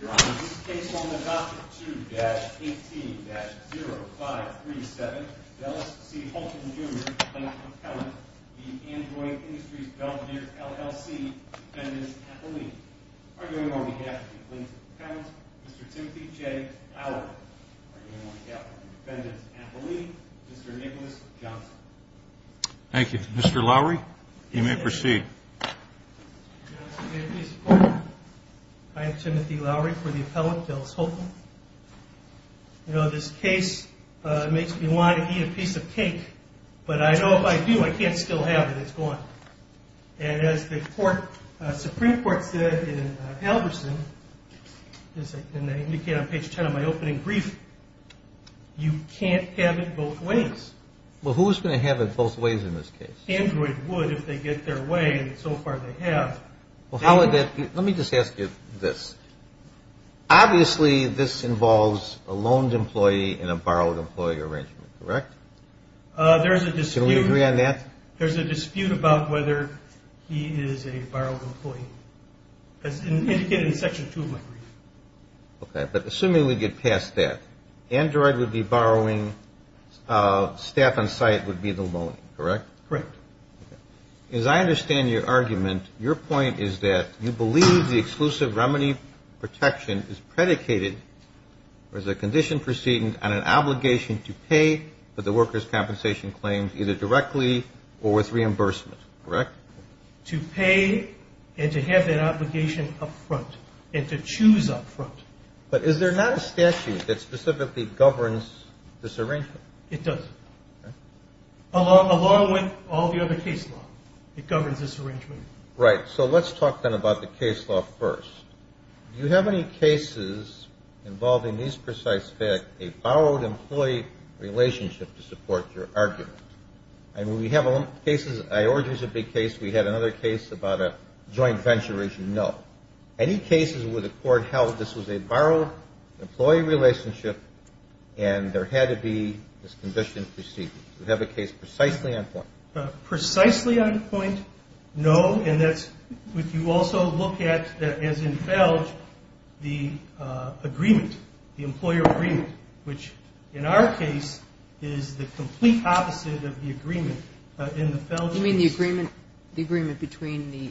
Your Honor, this case is on the docket 2-18-0537 of L.S.C. Holton Jr., plaintiff's appellant, v. Android Industries Belvidere LLC, defendant's appellee. Arguing on behalf of the plaintiff's appellant, Mr. Timothy J. Lowry. Arguing on behalf of the defendant's appellee, Mr. Nicholas Johnson. Thank you. Mr. Lowry, you may proceed. Your Honor, may I please report? I am Timothy Lowry for the appellant, Dallas Holton. You know, this case makes me want to eat a piece of cake, but I know if I do, I can't still have it. It's gone. And as the Supreme Court said in Albertson, as indicated on page 10 of my opening brief, you can't have it both ways. Well, who is going to have it both ways in this case? Android would if they get their way, and so far they have. Well, how would that be? Let me just ask you this. Obviously, this involves a loaned employee and a borrowed employee arrangement, correct? There's a dispute. Can we agree on that? There's a dispute about whether he is a borrowed employee, as indicated in Section 2 of my brief. Okay, but assuming we get past that, Android would be borrowing, staff on site would be the loan, correct? Correct. As I understand your argument, your point is that you believe the exclusive remedy protection is predicated, or is a condition proceeding on an obligation to pay for the worker's compensation claims either directly or with reimbursement, correct? To pay and to have that obligation up front and to choose up front. But is there not a statute that specifically governs this arrangement? It does. Along with all the other case law, it governs this arrangement. Right, so let's talk then about the case law first. Do you have any cases involving this precise fact, a borrowed employee relationship to support your argument? And we have cases, I ordered a big case, we had another case about a joint venture, as you know. Any cases where the court held this was a borrowed employee relationship and there had to be this condition proceeding? Do you have a case precisely on point? Precisely on point, no, and that's what you also look at as in FELG, the agreement, the employer agreement, which in our case is the complete opposite of the agreement. You mean the agreement between the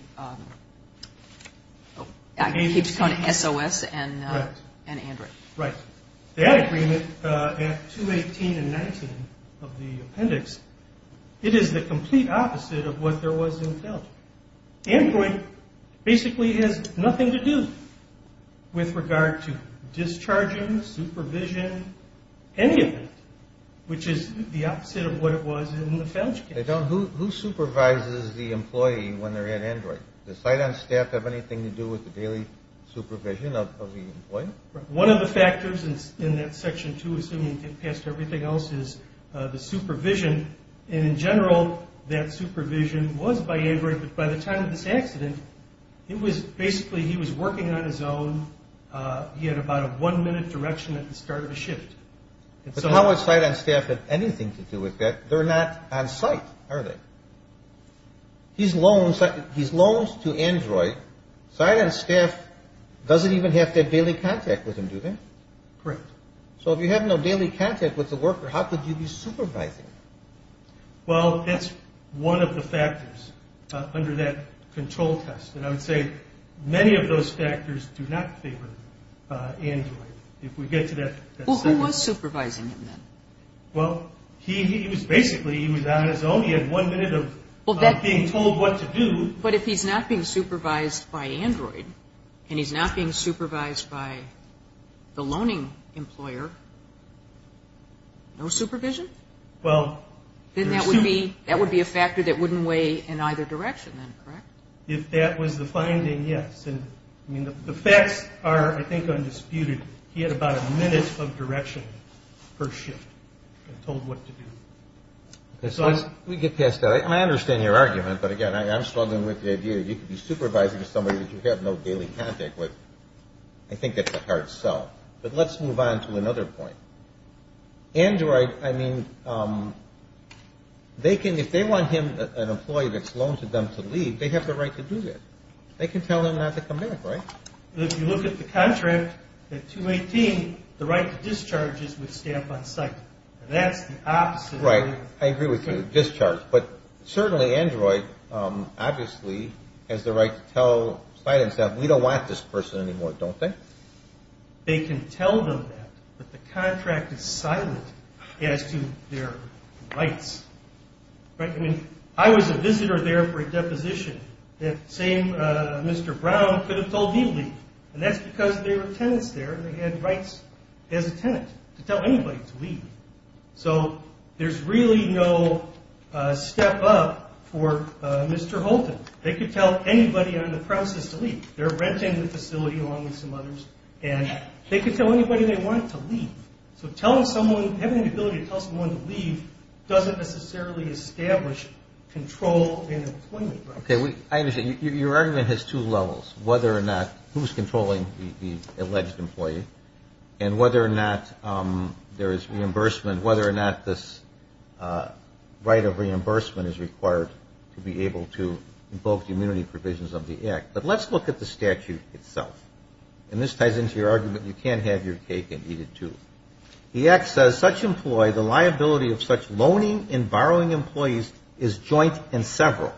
SOS and Android? Right, that agreement at 218 and 19 of the appendix, it is the complete opposite of what there was in FELG. Android basically has nothing to do with regard to discharging, supervision, any of that, which is the opposite of what it was in the FELG case. Who supervises the employee when they're at Android? Does site on staff have anything to do with the daily supervision of the employee? One of the factors in that section two, assuming you get past everything else, is the supervision. And in general, that supervision was by Android, but by the time of this accident, it was basically he was working on his own, he had about a one minute direction at the start of the shift. So how would site on staff have anything to do with that? They're not on site, are they? He's loaned to Android. Site on staff doesn't even have to have daily contact with him, do they? Correct. So if you have no daily contact with the worker, how could you be supervising? Well, that's one of the factors under that control test. And I would say many of those factors do not favor Android. Well, who was supervising him then? Well, he was basically on his own. He had one minute of being told what to do. But if he's not being supervised by Android and he's not being supervised by the loaning employer, no supervision? Well, there's two. Then that would be a factor that wouldn't weigh in either direction then, correct? If that was the finding, yes. The facts are, I think, undisputed. He had about a minute of direction per shift and told what to do. We get past that. I understand your argument. But, again, I'm struggling with the idea that you could be supervising somebody that you have no daily contact with. I think that's a hard sell. But let's move on to another point. Android, I mean, if they want him, an employee that's loaned to them to leave, they have the right to do that. They can tell them not to come in, right? If you look at the contract at 218, the right to discharge is with stamp on site. That's the opposite. I agree with you. Discharge. But certainly Android, obviously, has the right to tell site and staff, we don't want this person anymore, don't they? They can tell them that. But the contract is silent as to their rights. I mean, I was a visitor there for a deposition. That same Mr. Brown could have told me to leave. And that's because there were tenants there and they had rights as a tenant to tell anybody to leave. So there's really no step up for Mr. Holton. They could tell anybody on the premises to leave. They're renting the facility along with some others. And they could tell anybody they wanted to leave. So having the ability to tell someone to leave doesn't necessarily establish control in employment, right? Okay, I understand. Your argument has two levels, whether or not who's controlling the alleged employee and whether or not there is reimbursement, whether or not this right of reimbursement is required to be able to invoke the immunity provisions of the act. But let's look at the statute itself. And this ties into your argument. You can't have your cake and eat it, too. The act says such employee, the liability of such loaning and borrowing employees is joint and several.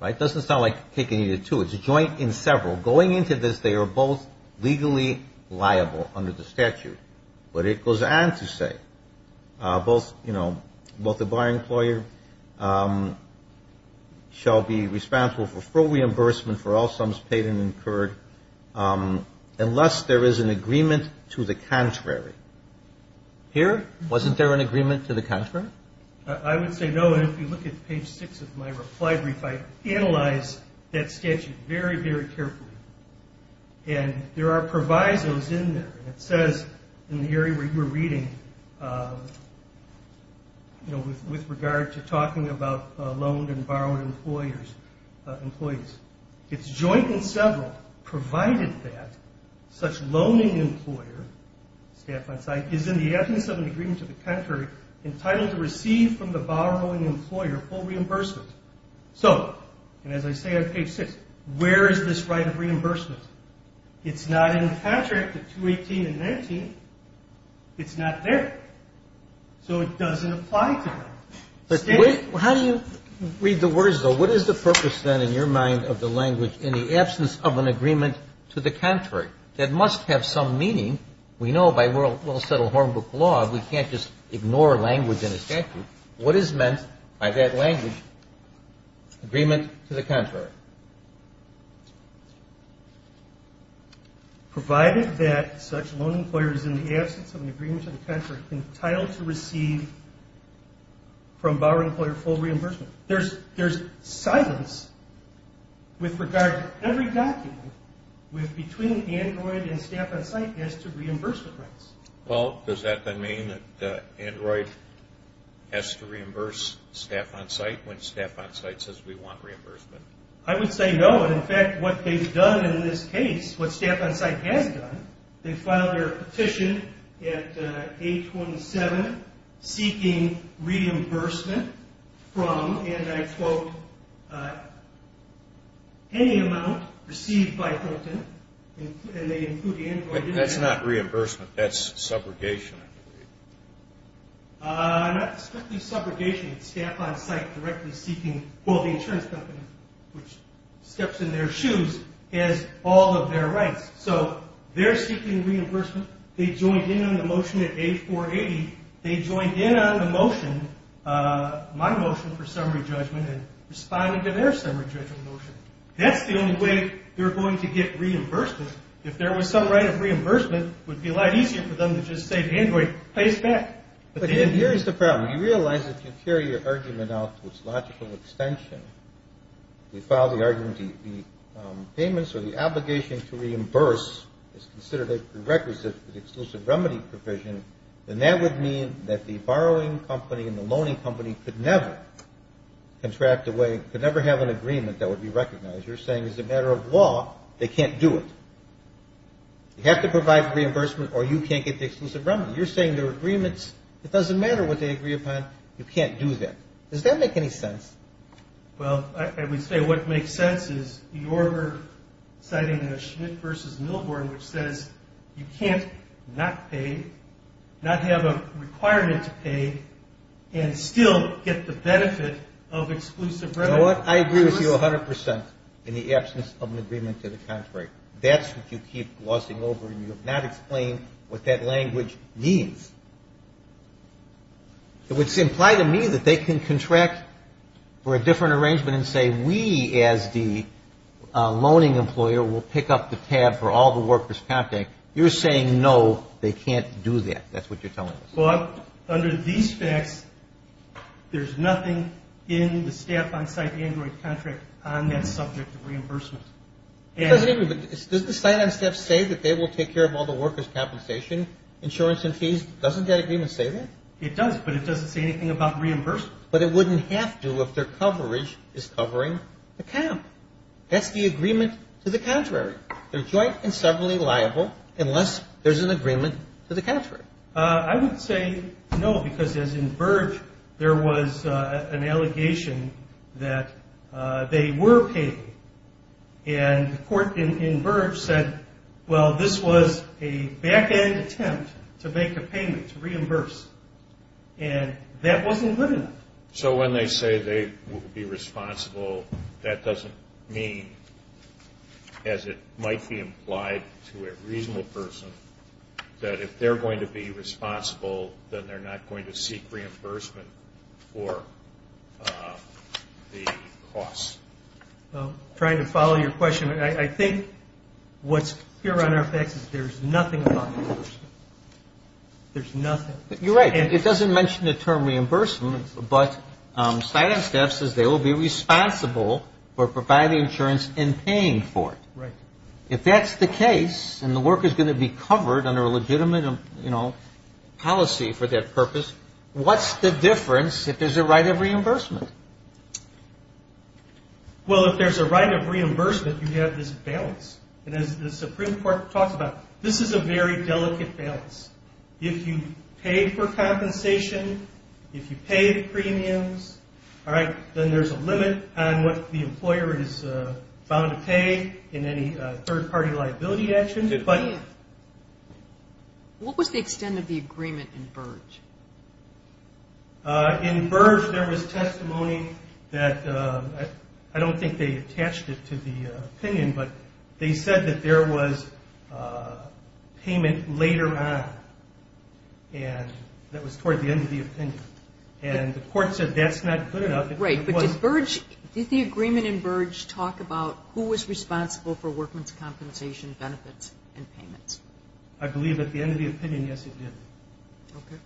Right? It doesn't sound like cake and eat it, too. It's joint and several. Going into this, they are both legally liable under the statute. But it goes on to say both, you know, both the borrowing employer shall be responsible for full reimbursement for all sums paid and incurred unless there is an agreement to the contrary. Here, wasn't there an agreement to the contrary? I would say no. And if you look at page 6 of my reply brief, I analyze that statute very, very carefully. And there are provisos in there. And it says in the area where you were reading, you know, with regard to talking about loaned and borrowed employers, employees, it's joint and several provided that such loaning employer, staff on site, is in the absence of an agreement to the contrary entitled to receive from the borrowing employer full reimbursement. So, and as I say on page 6, where is this right of reimbursement? It's not in the contract, the 218 and 19. It's not there. So it doesn't apply to them. How do you read the words, though? What is the purpose, then, in your mind of the language, in the absence of an agreement to the contrary? That must have some meaning. We know by well-settled hornbook law we can't just ignore language in a statute. What is meant by that language, agreement to the contrary? Provided that such loan employers in the absence of an agreement to the contrary are entitled to receive from borrowing employer full reimbursement. There's silence with regard to every document between Android and staff on site as to reimbursement rights. Well, does that then mean that Android has to reimburse staff on site when staff on site says we want reimbursement? I would say no. But, in fact, what they've done in this case, what staff on site has done, they filed their petition at 827 seeking reimbursement from, and I quote, any amount received by Hilton, and they include Android. That's not reimbursement. That's subrogation. Not strictly subrogation. Staff on site directly seeking, well, the insurance company, which steps in their shoes, has all of their rights. So they're seeking reimbursement. They joined in on the motion at 8480. They joined in on the motion, my motion for summary judgment, and responded to their summary judgment motion. That's the only way they're going to get reimbursement. If there was some right of reimbursement, it would be a lot easier for them to just say Android pays back. But here's the problem. You realize if you carry your argument out to its logical extension, you file the argument the payments or the obligation to reimburse is considered a prerequisite for the exclusive remedy provision, then that would mean that the borrowing company and the loaning company could never contract away, could never have an agreement that would be recognized. You're saying it's a matter of law. They can't do it. You have to provide reimbursement or you can't get the exclusive remedy. You're saying there are agreements. It doesn't matter what they agree upon. You can't do that. Does that make any sense? Well, I would say what makes sense is the order citing Schmidt v. Milborn, which says you can't not pay, not have a requirement to pay, and still get the benefit of exclusive remedy. You know what, I agree with you 100% in the absence of an agreement to the contrary. That's what you keep glossing over, and you have not explained what that language means. It would imply to me that they can contract for a different arrangement and say we as the loaning employer will pick up the tab for all the workers' contact. You're saying no, they can't do that. That's what you're telling us. But under these facts, there's nothing in the staff on-site android contract on that subject of reimbursement. It doesn't even, does the site on staff say that they will take care of all the workers' compensation, insurance and fees? Doesn't that agreement say that? It does, but it doesn't say anything about reimbursement. But it wouldn't have to if their coverage is covering the comp. That's the agreement to the contrary. They're joint and severally liable unless there's an agreement to the contrary. I would say no, because as in Burge, there was an allegation that they were paid. And the court in Burge said, well, this was a back-end attempt to make a payment, to reimburse. And that wasn't good enough. So when they say they will be responsible, that doesn't mean, as it might be implied to a reasonable person, that if they're going to be responsible, then they're not going to seek reimbursement for the cost. Trying to follow your question, I think what's clear on our facts is there's nothing about reimbursement. There's nothing. You're right. It doesn't mention the term reimbursement, but site on staff says they will be responsible for providing insurance and paying for it. Right. If that's the case and the work is going to be covered under a legitimate policy for that purpose, what's the difference if there's a right of reimbursement? Well, if there's a right of reimbursement, you have this balance. And as the Supreme Court talks about, this is a very delicate balance. If you paid for compensation, if you paid premiums, all right, then there's a limit on what the employer is bound to pay in any third-party liability action. What was the extent of the agreement in Burge? In Burge, there was testimony that I don't think they attached it to the opinion, but they said that there was payment later on, and that was toward the end of the opinion. And the court said that's not good enough. Right. But did the agreement in Burge talk about who was responsible for workman's compensation benefits and payments? I believe at the end of the opinion, yes, it did. Okay.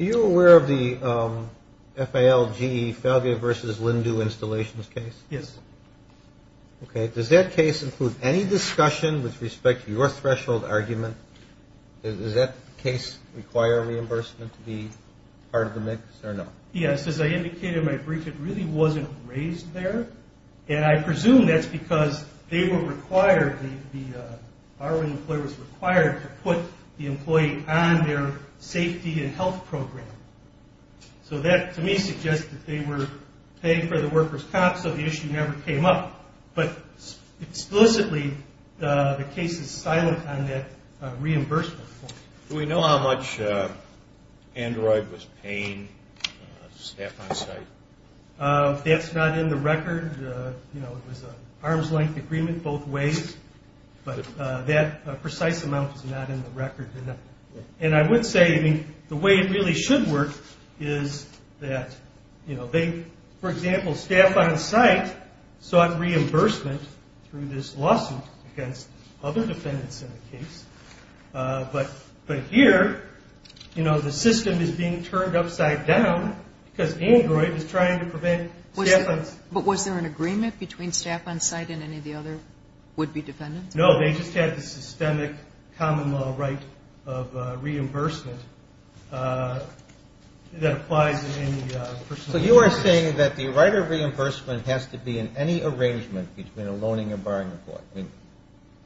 Are you aware of the FALG, Fabio versus Lindu, installations case? Yes. Okay. Does that case include any discussion with respect to your threshold argument? Does that case require reimbursement to be part of the mix or no? Yes. As I indicated in my brief, it really wasn't raised there, and I presume that's because they were required, the borrowing employer was required, to put the employee on their safety and health program. So that, to me, suggests that they were paying for the worker's comp, so the issue never came up. But explicitly, the case is silent on that reimbursement. Do we know how much Android was paying staff on site? That's not in the record. You know, it was an arm's length agreement both ways, but that precise amount is not in the record. And I would say, I mean, the way it really should work is that, you know, they, for example, staff on site sought reimbursement through this lawsuit against other defendants in the case. But here, you know, the system is being turned upside down because Android is trying to prevent staff on site. But was there an agreement between staff on site and any of the other would-be defendants? No. They just had the systemic common law right of reimbursement that applies in any personal interest. So you are saying that the right of reimbursement has to be in any arrangement between a loaning and borrowing report. I mean,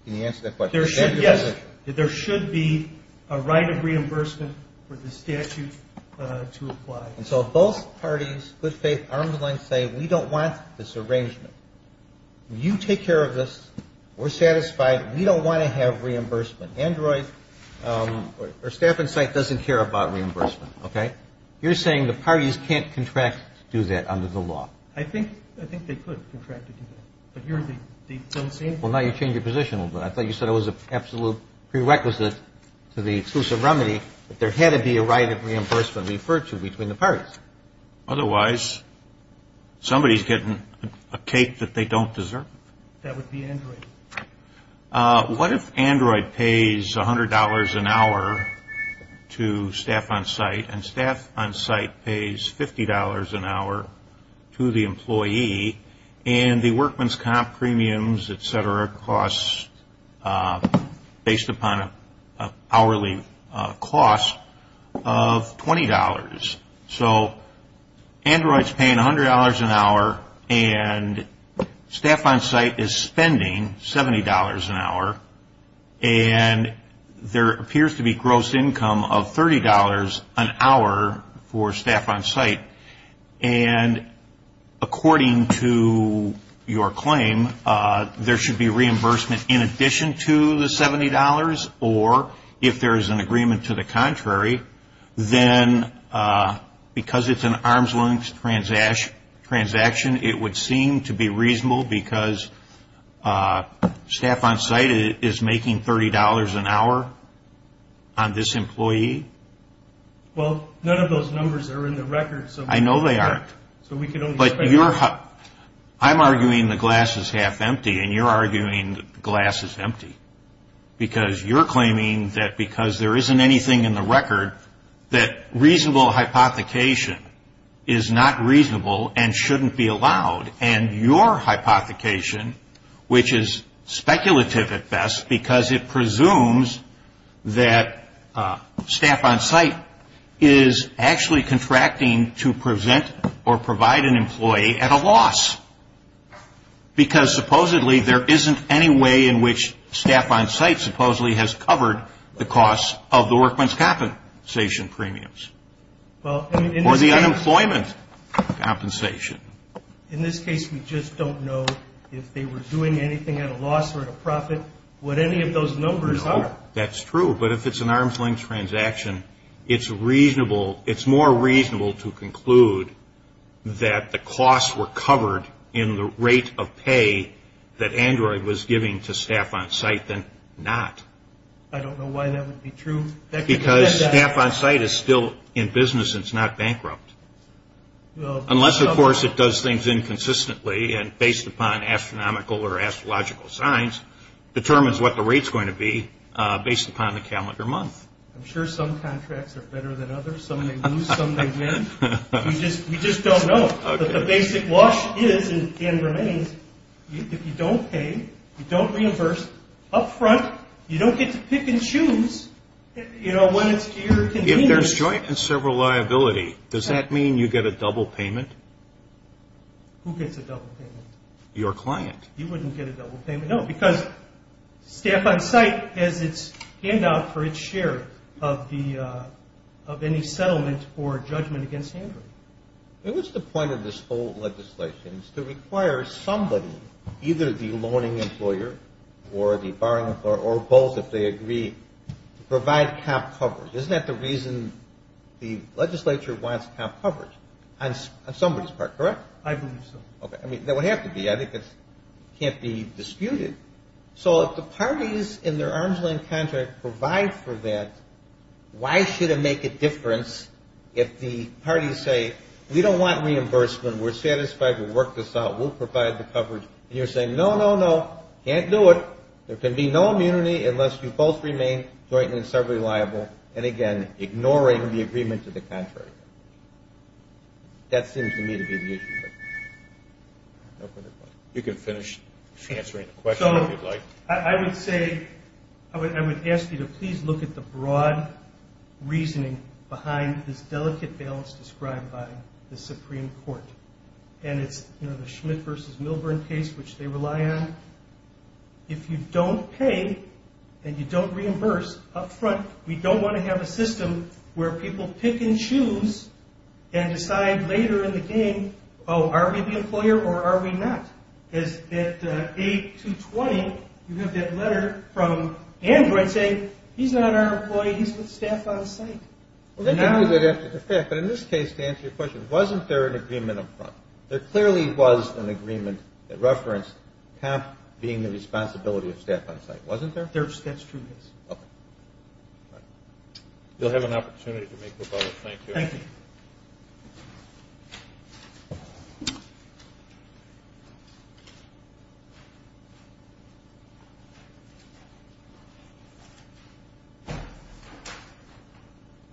can you answer that question? Yes. There should be a right of reimbursement for the statute to apply. And so if both parties, good faith, arm's length, say we don't want this arrangement, you take care of this. We're satisfied. We don't want to have reimbursement. Android or staff on site doesn't care about reimbursement. Okay? You're saying the parties can't contract to do that under the law. I think they could contract to do that. But here they don't seem to. Well, now you've changed your position a little bit. I thought you said it was an absolute prerequisite to the exclusive remedy that there had to be a right of reimbursement referred to between the parties. Otherwise, somebody is getting a cake that they don't deserve. That would be Android. What if Android pays $100 an hour to staff on site and staff on site pays $50 an hour to the employee and the workman's comp premiums, et cetera, costs based upon hourly cost of $20? So Android is paying $100 an hour and staff on site is spending $70 an hour. And there appears to be gross income of $30 an hour for staff on site. And according to your claim, there should be reimbursement in addition to the $70. Or if there is an agreement to the contrary, then because it's an arm's length transaction, it would seem to be reasonable because staff on site is making $30 an hour on this employee. Well, none of those numbers are in the record. I know they aren't. But I'm arguing the glass is half empty, and you're arguing the glass is empty. Because you're claiming that because there isn't anything in the record, that reasonable hypothecation is not reasonable and shouldn't be allowed, and your hypothecation, which is speculative at best because it presumes that staff on site is actually contracting to present or provide an employee at a loss. Because supposedly there isn't any way in which staff on site supposedly has covered the costs of the workman's compensation premiums or the unemployment compensation. In this case, we just don't know if they were doing anything at a loss or at a profit, what any of those numbers are. That's true, but if it's an arm's length transaction, it's more reasonable to conclude that the costs were covered in the rate of pay that Android was giving to staff on site than not. I don't know why that would be true. Because staff on site is still in business and it's not bankrupt. Unless, of course, it does things inconsistently and based upon astronomical or astrological signs determines what the rate's going to be based upon the calendar month. I'm sure some contracts are better than others. Some may lose, some may win. We just don't know. The basic wash is, and remains, if you don't pay, you don't reimburse up front, you don't get to pick and choose when it's here or continues. If there's joint and several liability, does that mean you get a double payment? Who gets a double payment? Your client. He wouldn't get a double payment, no, because staff on site has its handout for its share of any settlement or judgment against Android. What's the point of this whole legislation? It's to require somebody, either the loaning employer or the borrowing employer, or both if they agree, to provide cap coverage. Isn't that the reason the legislature wants cap coverage on somebody's part, correct? I believe so. That would have to be. I think it can't be disputed. So if the parties in their arms-length contract provide for that, why should it make a difference if the parties say, we don't want reimbursement, we're satisfied, we'll work this out, we'll provide the coverage, and you're saying, no, no, no, can't do it. There can be no immunity unless you both remain joint and several liable, and, again, ignoring the agreement to the contrary. That seems to me to be the issue. You can finish answering the question if you'd like. So I would say, I would ask you to please look at the broad reasoning behind this delicate balance described by the Supreme Court, and it's the Schmidt v. Milburn case, which they rely on. If you don't pay and you don't reimburse up front, we don't want to have a system where people pick and choose and decide later in the game, oh, are we the employer or are we not? At 8-220, you have that letter from Android saying, he's not our employee, he's with staff on site. But in this case, to answer your question, wasn't there an agreement up front? There clearly was an agreement that referenced PAP being the responsibility of staff on site, wasn't there? That's true, yes. Okay. You'll have an opportunity to make rebuttals. Thank you. Thank you.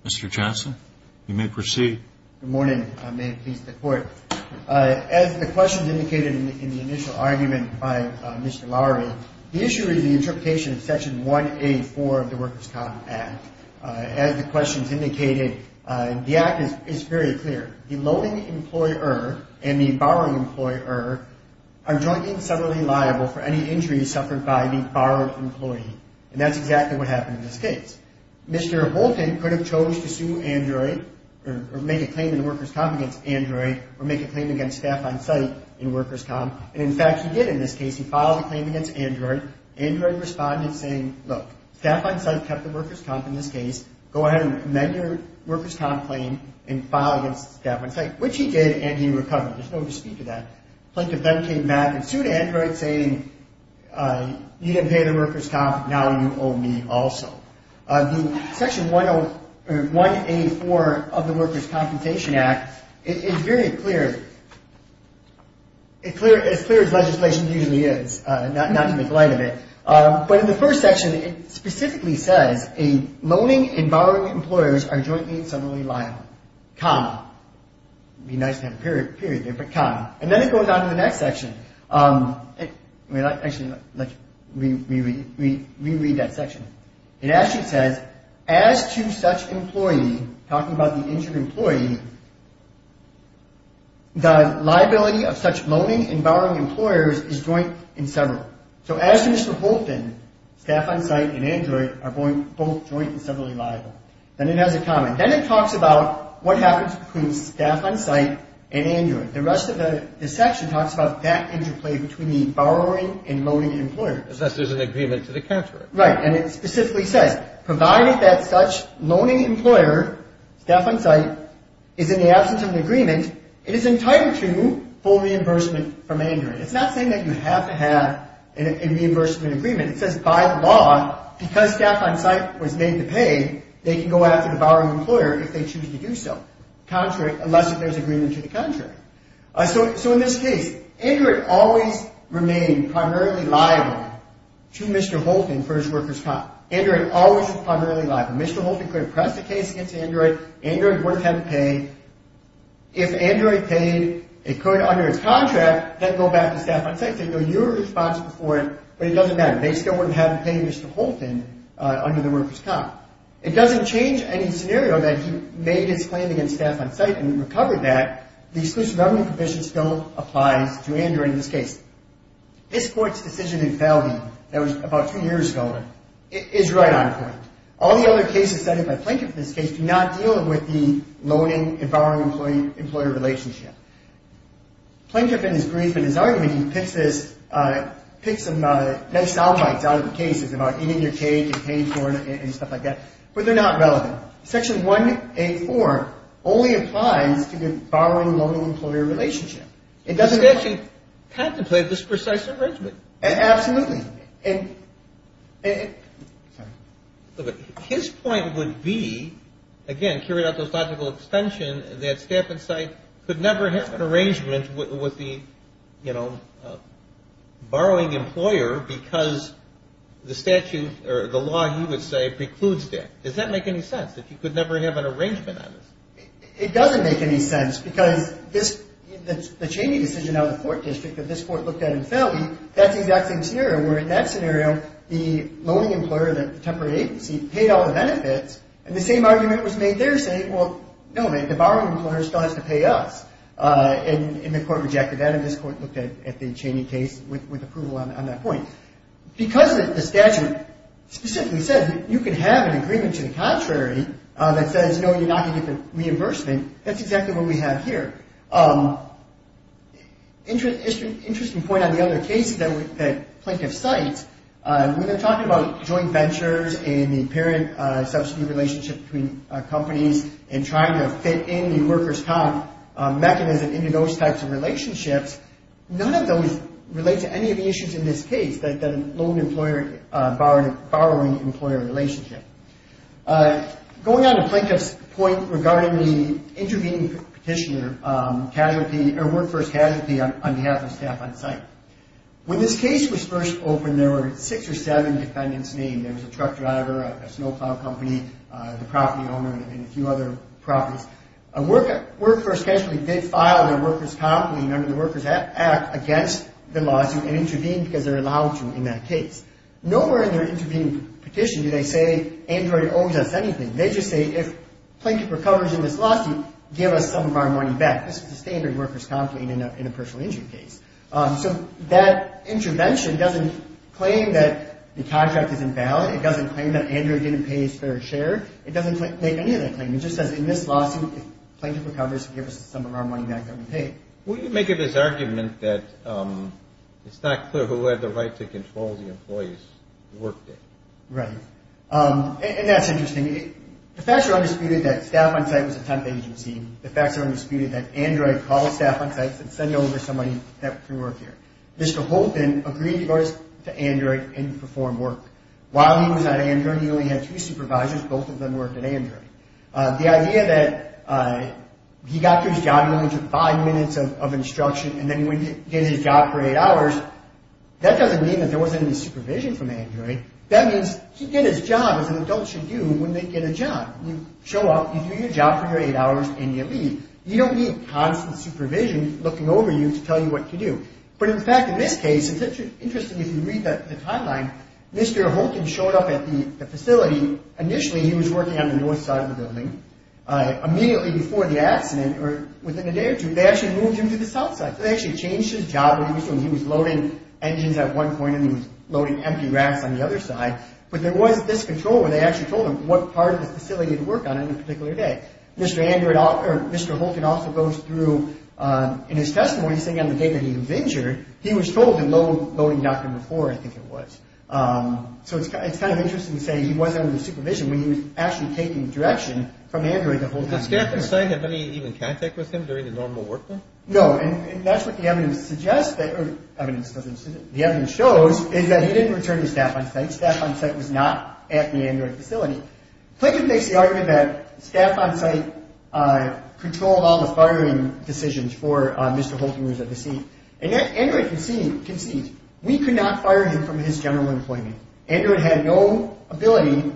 Mr. Johnson, you may proceed. Good morning. May it please the Court. As the questions indicated in the initial argument by Mr. Lowery, the issue is the interpretation of Section 1A4 of the Workers' Com Act. As the questions indicated, the Act is very clear. The loaning employer and the borrowing employer are jointly and separately liable for any injuries suffered by the borrowed employee, and that's exactly what happened in this case. Mr. Bolton could have chose to sue Android, or make a claim in Workers' Com against Android, or make a claim against staff on site in Workers' Com, and, in fact, he did in this case. He filed a claim against Android. Android responded saying, look, staff on site kept the Workers' Com in this case. Go ahead and amend your Workers' Com claim and file against staff on site, which he did and he recovered. There's no dispute to that. Plaintiff then came back and sued Android saying, you didn't pay the Workers' Com, now you owe me also. The Section 1A4 of the Workers' Compensation Act is very clear. It's clear as legislation usually is, not to make light of it. But in the first section, it specifically says, loaning and borrowing employers are jointly and separately liable, comma. It would be nice to have a period there, but comma. And then it goes on to the next section. Actually, let's reread that section. It actually says, as to such employee, talking about the injured employee, the liability of such loaning and borrowing employers is joint and separate. So as to Mr. Holton, staff on site and Android are both jointly and separately liable. Then it has a comment. Then it talks about what happens between staff on site and Android. The rest of the section talks about that interplay between the borrowing and loaning employers. Unless there's an agreement to the contrary. Right, and it specifically says, provided that such loaning employer, staff on site, is in the absence of an agreement, it is entitled to full reimbursement from Android. It's not saying that you have to have a reimbursement agreement. It says, by the law, because staff on site was made to pay, they can go after the borrowing employer if they choose to do so. Contrary, unless there's an agreement to the contrary. So in this case, Android always remained primarily liable to Mr. Holton for his workers' comp. Android always was primarily liable. Mr. Holton could have pressed the case against Android. Android wouldn't have to pay. If Android paid, it could, under its contract, then go back to staff on site. They'd know you were responsible for it, but it doesn't matter. They still wouldn't have to pay Mr. Holton under the workers' comp. It doesn't change any scenario that he made his claim against staff on site and recovered that. The Exclusive Government Commission still applies to Android in this case. This Court's decision in Fowley, that was about two years ago, is right on point. All the other cases cited by Planker in this case do not deal with the loaning and borrowing employer relationship. Planker, in his brief and his argument, he picks some next alphabets out of the cases, about eating your cake and paying for it and stuff like that, but they're not relevant. Section 184 only applies to the borrowing-loaning-employer relationship. It doesn't apply. The statute contemplates this precise arrangement. Absolutely. Sorry. His point would be, again, carried out this logical extension, that staff on site could never have an arrangement with the, you know, borrowing employer because the statute or the law, he would say, precludes that. Does that make any sense, that you could never have an arrangement on this? It doesn't make any sense because the Cheney decision out of the court district that this court looked at in Fowley, that's the exact same scenario where, in that scenario, the loaning employer, the temporary agency, paid all the benefits, and the same argument was made there saying, well, no, the borrowing employer still has to pay us, and the court rejected that, and this court looked at the Cheney case with approval on that point. Because the statute specifically says that you can have an agreement to the contrary that says, no, you're not going to get the reimbursement, that's exactly what we have here. Interesting point on the other cases that Plaintiff cites, when they're talking about joint ventures and the apparent subsidy relationship between companies and trying to fit in the workers' comp mechanism into those types of relationships, none of those relate to any of the issues in this case, the loan employer-borrowing employer relationship. Going on to Plaintiff's point regarding the intervening petitioner, Workforce Casualty on behalf of staff on site. When this case was first opened, there were six or seven defendants named. There was a truck driver, a snow plow company, the property owner, and a few other properties. Workforce Casualty did file their workers' comp under the Workers' Act against the lawsuit and intervened because they were allowed to in that case. Nowhere in their intervening petition do they say, Android owes us anything. They just say, if Plaintiff recovers in this lawsuit, give us some of our money back. This is the standard workers' comp thing in a personal injury case. So that intervention doesn't claim that the contract is invalid. It doesn't claim that Android didn't pay his fair share. It doesn't make any of that claim. It just says, in this lawsuit, if Plaintiff recovers, give us some of our money back that we paid. What do you make of his argument that it's not clear who had the right to control the employees' workday? Right. And that's interesting. The facts are undisputed that staff on site was a temp agency. The facts are undisputed that Android called staff on site and said, send over somebody that can work here. Mr. Holton agreed to go to Android and perform work. While he was at Android, he only had two supervisors. Both of them worked at Android. The idea that he got his job, he only took five minutes of instruction, and then he did his job for eight hours, that doesn't mean that there wasn't any supervision from Android. That means he did his job as an adult should do when they get a job. You show up, you do your job for your eight hours, and you leave. You don't need constant supervision looking over you to tell you what to do. But in fact, in this case, it's interesting if you read the timeline, Mr. Holton showed up at the facility. Initially, he was working on the north side of the building. Immediately before the accident, or within a day or two, they actually moved him to the south side. They actually changed his job. He was loading engines at one point, and he was loading empty racks on the other side. But there was this control where they actually told him what part of the facility to work on on a particular day. Mr. Holton also goes through, in his testimony, he's saying on the day that he was injured, he was told to load dock number four, I think it was. So it's kind of interesting to say he wasn't under supervision when he was actually taking direction from Android to Holton. Did staff on site have any even contact with him during the normal workday? No, and that's what the evidence suggests, or the evidence shows, is that he didn't return to staff on site. Staff on site was not at the Android facility. Plinkett makes the argument that staff on site controlled all the firing decisions for Mr. Holton, who was at the scene. Android concedes, we could not fire him from his general employment. Android had no ability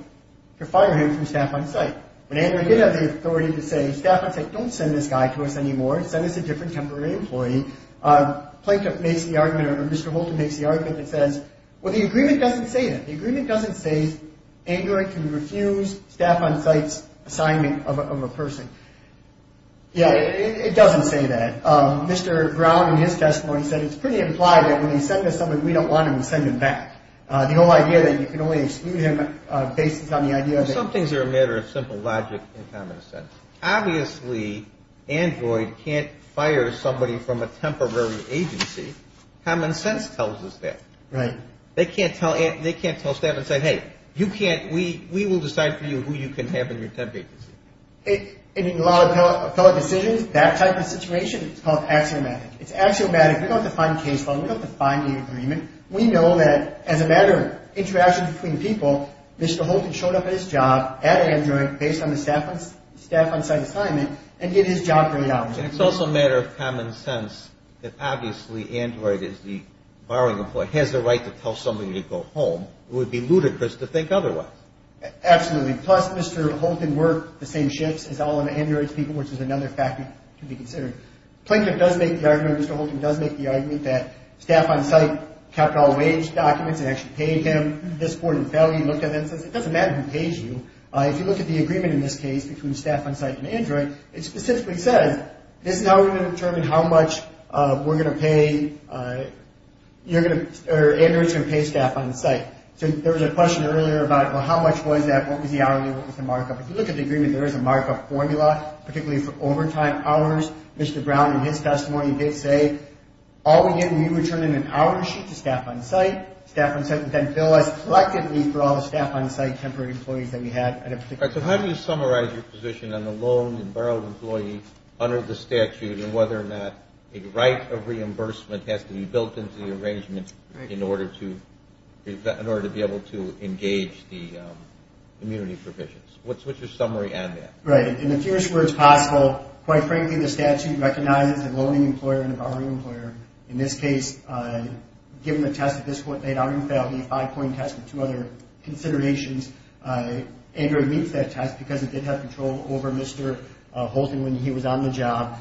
to fire him from staff on site. When Android did have the authority to say, staff on site, don't send this guy to us anymore, send us a different temporary employee, Mr. Holton makes the argument that says, well, the agreement doesn't say that. The agreement doesn't say Android can refuse staff on site's assignment of a person. Yeah, it doesn't say that. Mr. Brown, in his testimony, said it's pretty implied that when he sends us somebody we don't want him, we send him back. The whole idea that you can only exclude him bases on the idea that- Some things are a matter of simple logic and common sense. Obviously, Android can't fire somebody from a temporary agency. Common sense tells us that. Right. They can't tell staff and say, hey, we will decide for you who you can have in your temp agency. In a lot of appellate decisions, that type of situation is called axiomatic. It's axiomatic. We don't have to find a case file. We don't have to find an agreement. We know that as a matter of interaction between people, Mr. Holton showed up at his job at Android based on the staff on site assignment and did his job pretty obviously. It's also a matter of common sense that obviously Android is the- has the right to tell somebody to go home. It would be ludicrous to think otherwise. Absolutely. Plus, Mr. Holton worked the same shifts as all of Android's people, which is another factor to be considered. Plinkett does make the argument, Mr. Holton does make the argument, that staff on site kept all wage documents and actually paid him. This board and felony looked at that and says, it doesn't matter who pays you. If you look at the agreement in this case between staff on site and Android, it specifically says, this is how we're going to determine how much we're going to pay- you're going to- or Android's going to pay staff on site. So there was a question earlier about, well, how much was that? What was the hourly? What was the markup? If you look at the agreement, there is a markup formula, particularly for overtime hours. Mr. Brown, in his testimony, did say, all we get when you return an hour sheet to staff on site, staff on site would then bill us collectively for all the staff on site, temporary employees that we had at a particular time. So how do you summarize your position on the loan and borrowed employee under the statute and whether or not a right of reimbursement has to be built into the arrangement in order to be able to engage the immunity provisions? What's your summary on that? Right. In the fewest words possible, quite frankly, the statute recognizes a loaning employer and a borrowing employer. In this case, given the test at this point, they had already filed a five-point test with two other considerations. Android meets that test because it did have control over Mr. Holton when he was on the job.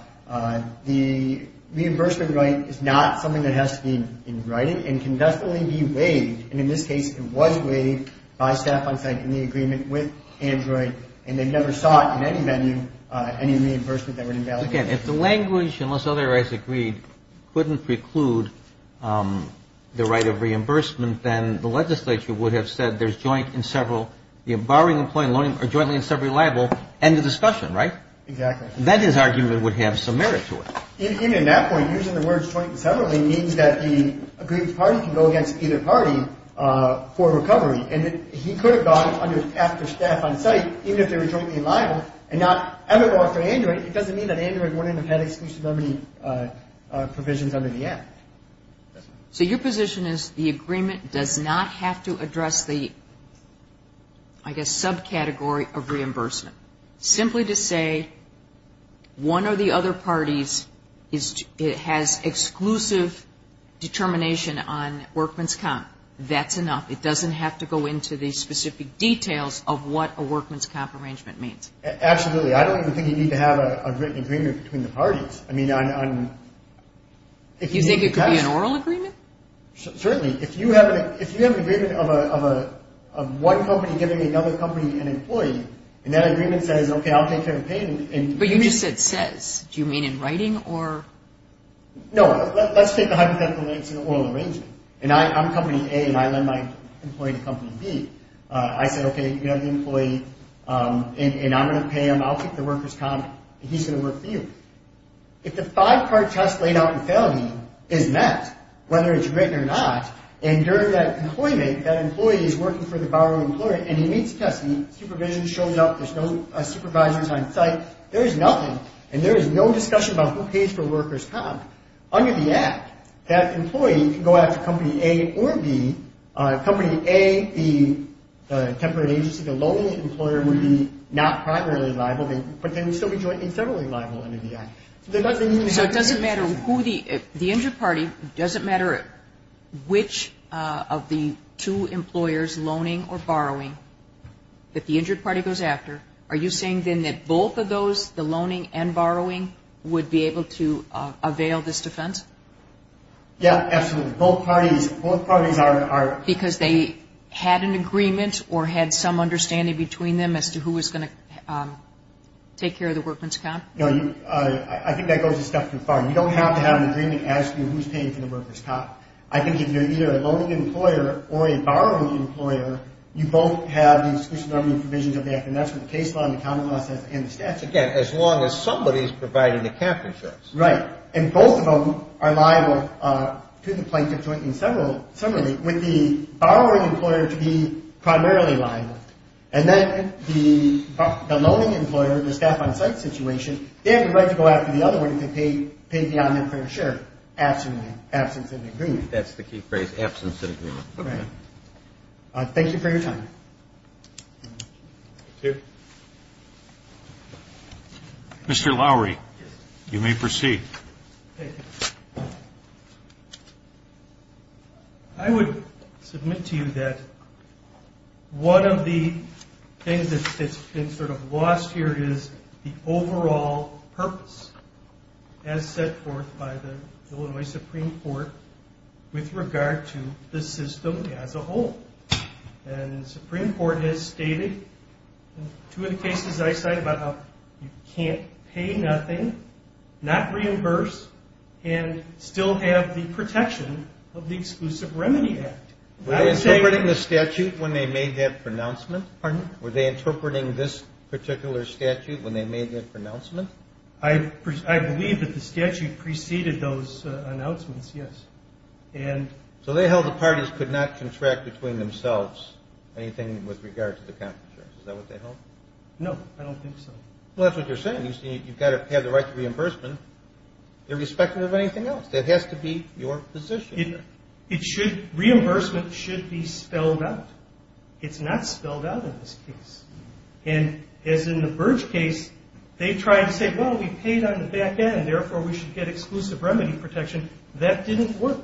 The reimbursement right is not something that has to be in writing and can definitely be waived, and in this case, it was waived by staff on site in the agreement with Android, and they never sought in any venue any reimbursement that would invalidate the agreement. If the language, unless other rights agreed, couldn't preclude the right of reimbursement, then the legislature would have said there's joint in several, the borrowing employee and loaner are jointly in several liable, end of discussion, right? Exactly. That, in his argument, would have some merit to it. Even at that point, using the words jointly in several means that the agreed party can go against either party for recovery, and he could have gone after staff on site, even if they were jointly in liable, and not ever go after Android. It doesn't mean that Android wouldn't have had exclusivity provisions under the Act. So your position is the agreement does not have to address the, I guess, subcategory of reimbursement. Simply to say one or the other parties has exclusive determination on workman's comp, that's enough. It doesn't have to go into the specific details of what a workman's comp arrangement means. Absolutely. I don't even think you need to have a written agreement between the parties. You think it could be an oral agreement? Certainly. If you have an agreement of one company giving another company an employee, and that agreement says, okay, I'll take care of the payment. But you just said says. Do you mean in writing or? No. Let's take the hypothetical, and it's an oral arrangement. And I'm company A, and I lend my employee to company B. I said, okay, you have the employee, and I'm going to pay him. I'll take the worker's comp, and he's going to work for you. If the five-part test laid out in felony is met, whether it's written or not, and during that employee date, that employee is working for the borrowing employer, and he meets the test, the supervision shows up, there's no supervisors on site, there is nothing, and there is no discussion about who pays for worker's comp. Under the Act, that employee can go after company A or B. Company A, the temporary agency, the lonely employer, would be not primarily liable, but they would still be federally liable under the Act. So it doesn't matter who the injured party, it doesn't matter which of the two employers, loaning or borrowing, that the injured party goes after. Are you saying then that both of those, the loaning and borrowing, would be able to avail this defense? Yeah, absolutely. Both parties are. Because they had an agreement or had some understanding between them as to who was going to take care of the worker's comp? No, I think that goes a step too far. You don't have to have an agreement as to who's paying for the worker's comp. I think if you're either a loaning employer or a borrowing employer, you both have the exclusionary provisions of the Act, and that's what the case law and the common law says, and the statute says. Again, as long as somebody is providing the captorships. Right. And both of them are liable to the plaintiff jointly, similarly, with the borrowing employer to be primarily liable. And then the loaning employer, the staff on site situation, they have the right to go after the other one if they pay beyond their fair share, absolutely, absence of agreement. That's the key phrase, absence of agreement. Right. Thank you for your time. Thank you. Mr. Lowery. Yes. You may proceed. Thank you. I would submit to you that one of the things that's been sort of lost here is the overall purpose as set forth by the Illinois Supreme Court with regard to the system as a whole. And the Supreme Court has stated in two of the cases I cited about how you can't pay nothing, not reimburse, and still have the protection of the Exclusive Remedy Act. Were they interpreting the statute when they made that pronouncement? Pardon? Were they interpreting this particular statute when they made that pronouncement? I believe that the statute preceded those announcements, yes. So they held the parties could not contract between themselves anything with regard to the compensation. Is that what they held? No, I don't think so. Well, that's what you're saying. You've got to have the right to reimbursement irrespective of anything else. That has to be your position. Reimbursement should be spelled out. It's not spelled out in this case. And as in the Burge case, they tried to say, well, we paid on the back end, therefore we should get exclusive remedy protection. That didn't work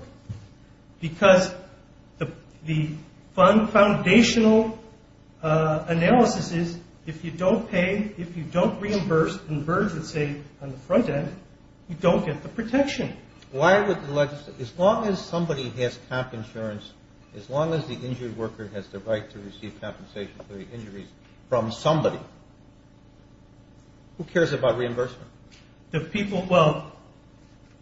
because the fund foundational analysis is if you don't pay, if you don't reimburse in Burge, let's say, on the front end, you don't get the protection. Why would the legislature, as long as somebody has comp insurance, as long as the injured worker has the right to receive compensation for the injuries from somebody, who cares about reimbursement? The people, well,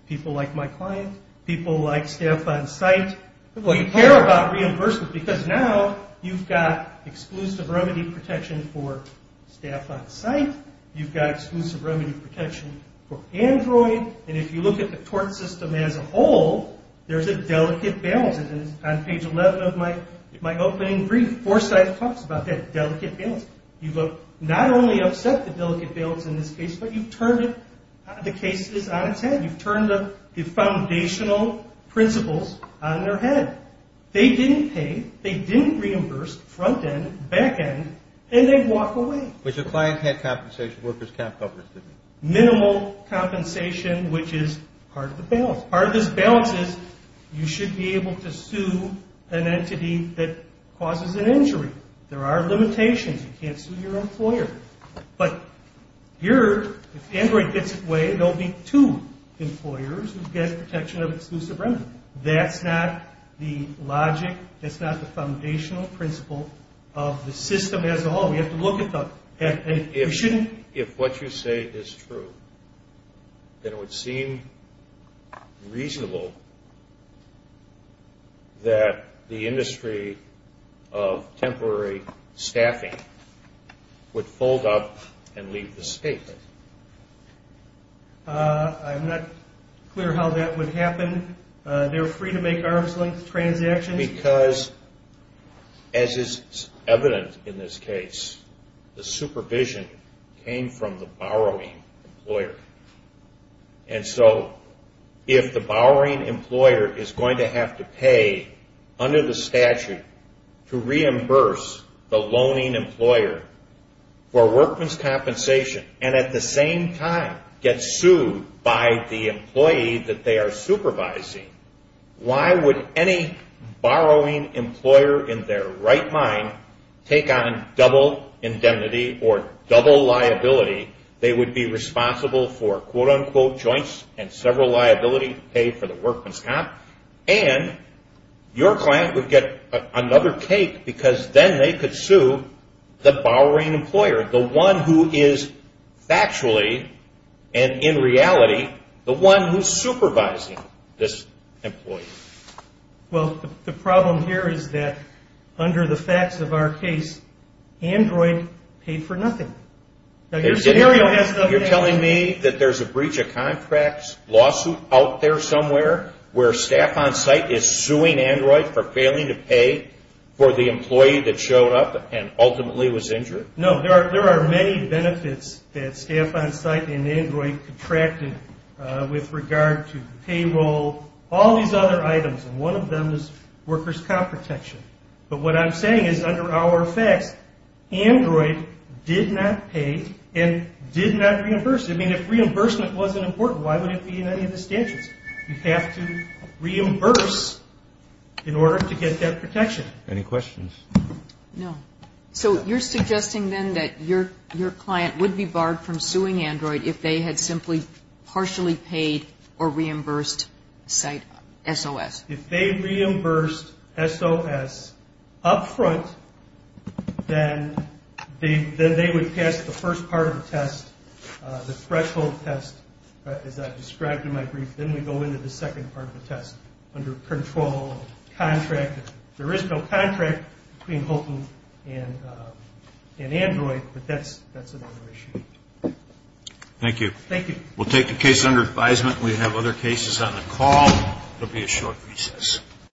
people like my client, people like staff on site. Well, you care about reimbursement because now you've got exclusive remedy protection for staff on site. You've got exclusive remedy protection for Android. And if you look at the tort system as a whole, there's a delicate balance. And on page 11 of my opening brief, Forsythe talks about that delicate balance. You've not only upset the delicate balance in this case, but you've turned the cases on its head. You've turned the foundational principles on their head. They didn't pay. They didn't reimburse front end, back end, and they walk away. But your client had compensation, workers' comp coverage, didn't they? Minimal compensation, which is part of the balance. Part of this balance is you should be able to sue an entity that causes an injury. There are limitations. You can't sue your employer. But here, if Android gets away, there will be two employers who get protection of exclusive remedy. That's not the logic. That's not the foundational principle of the system as a whole. We have to look at the head. If what you say is true, then it would seem reasonable that the industry of temporary staffing would fold up and leave the state. I'm not clear how that would happen. They're free to make arm's length transactions. And because, as is evident in this case, the supervision came from the borrowing employer. And so if the borrowing employer is going to have to pay under the statute to reimburse the loaning employer for workman's If the borrowing employer in their right mind take on double indemnity or double liability, they would be responsible for, quote-unquote, joints and several liability to pay for the workman's comp. And your client would get another cake because then they could sue the borrowing employer, the one who is factually and in reality the one who's supervising this employee. Well, the problem here is that under the facts of our case, Android paid for nothing. You're telling me that there's a breach of contracts lawsuit out there somewhere where staff on site is suing Android for failing to pay for the employee that showed up and ultimately was injured? No. There are many benefits that staff on site and Android contracted with regard to payroll, all these other items, and one of them is worker's comp protection. But what I'm saying is under our facts, Android did not pay and did not reimburse. I mean, if reimbursement wasn't important, why would it be in any of the statutes? You have to reimburse in order to get that protection. Any questions? No. So you're suggesting then that your client would be barred from suing Android if they had simply partially paid or reimbursed site SOS? If they reimbursed SOS up front, then they would pass the first part of the test, the threshold test, as I described in my brief, then we go into the second part of the test under control of contract. There is no contract between Holton and Android, but that's another issue. Thank you. Thank you. We'll take the case under advisement. We have other cases on the call. There will be a short recess.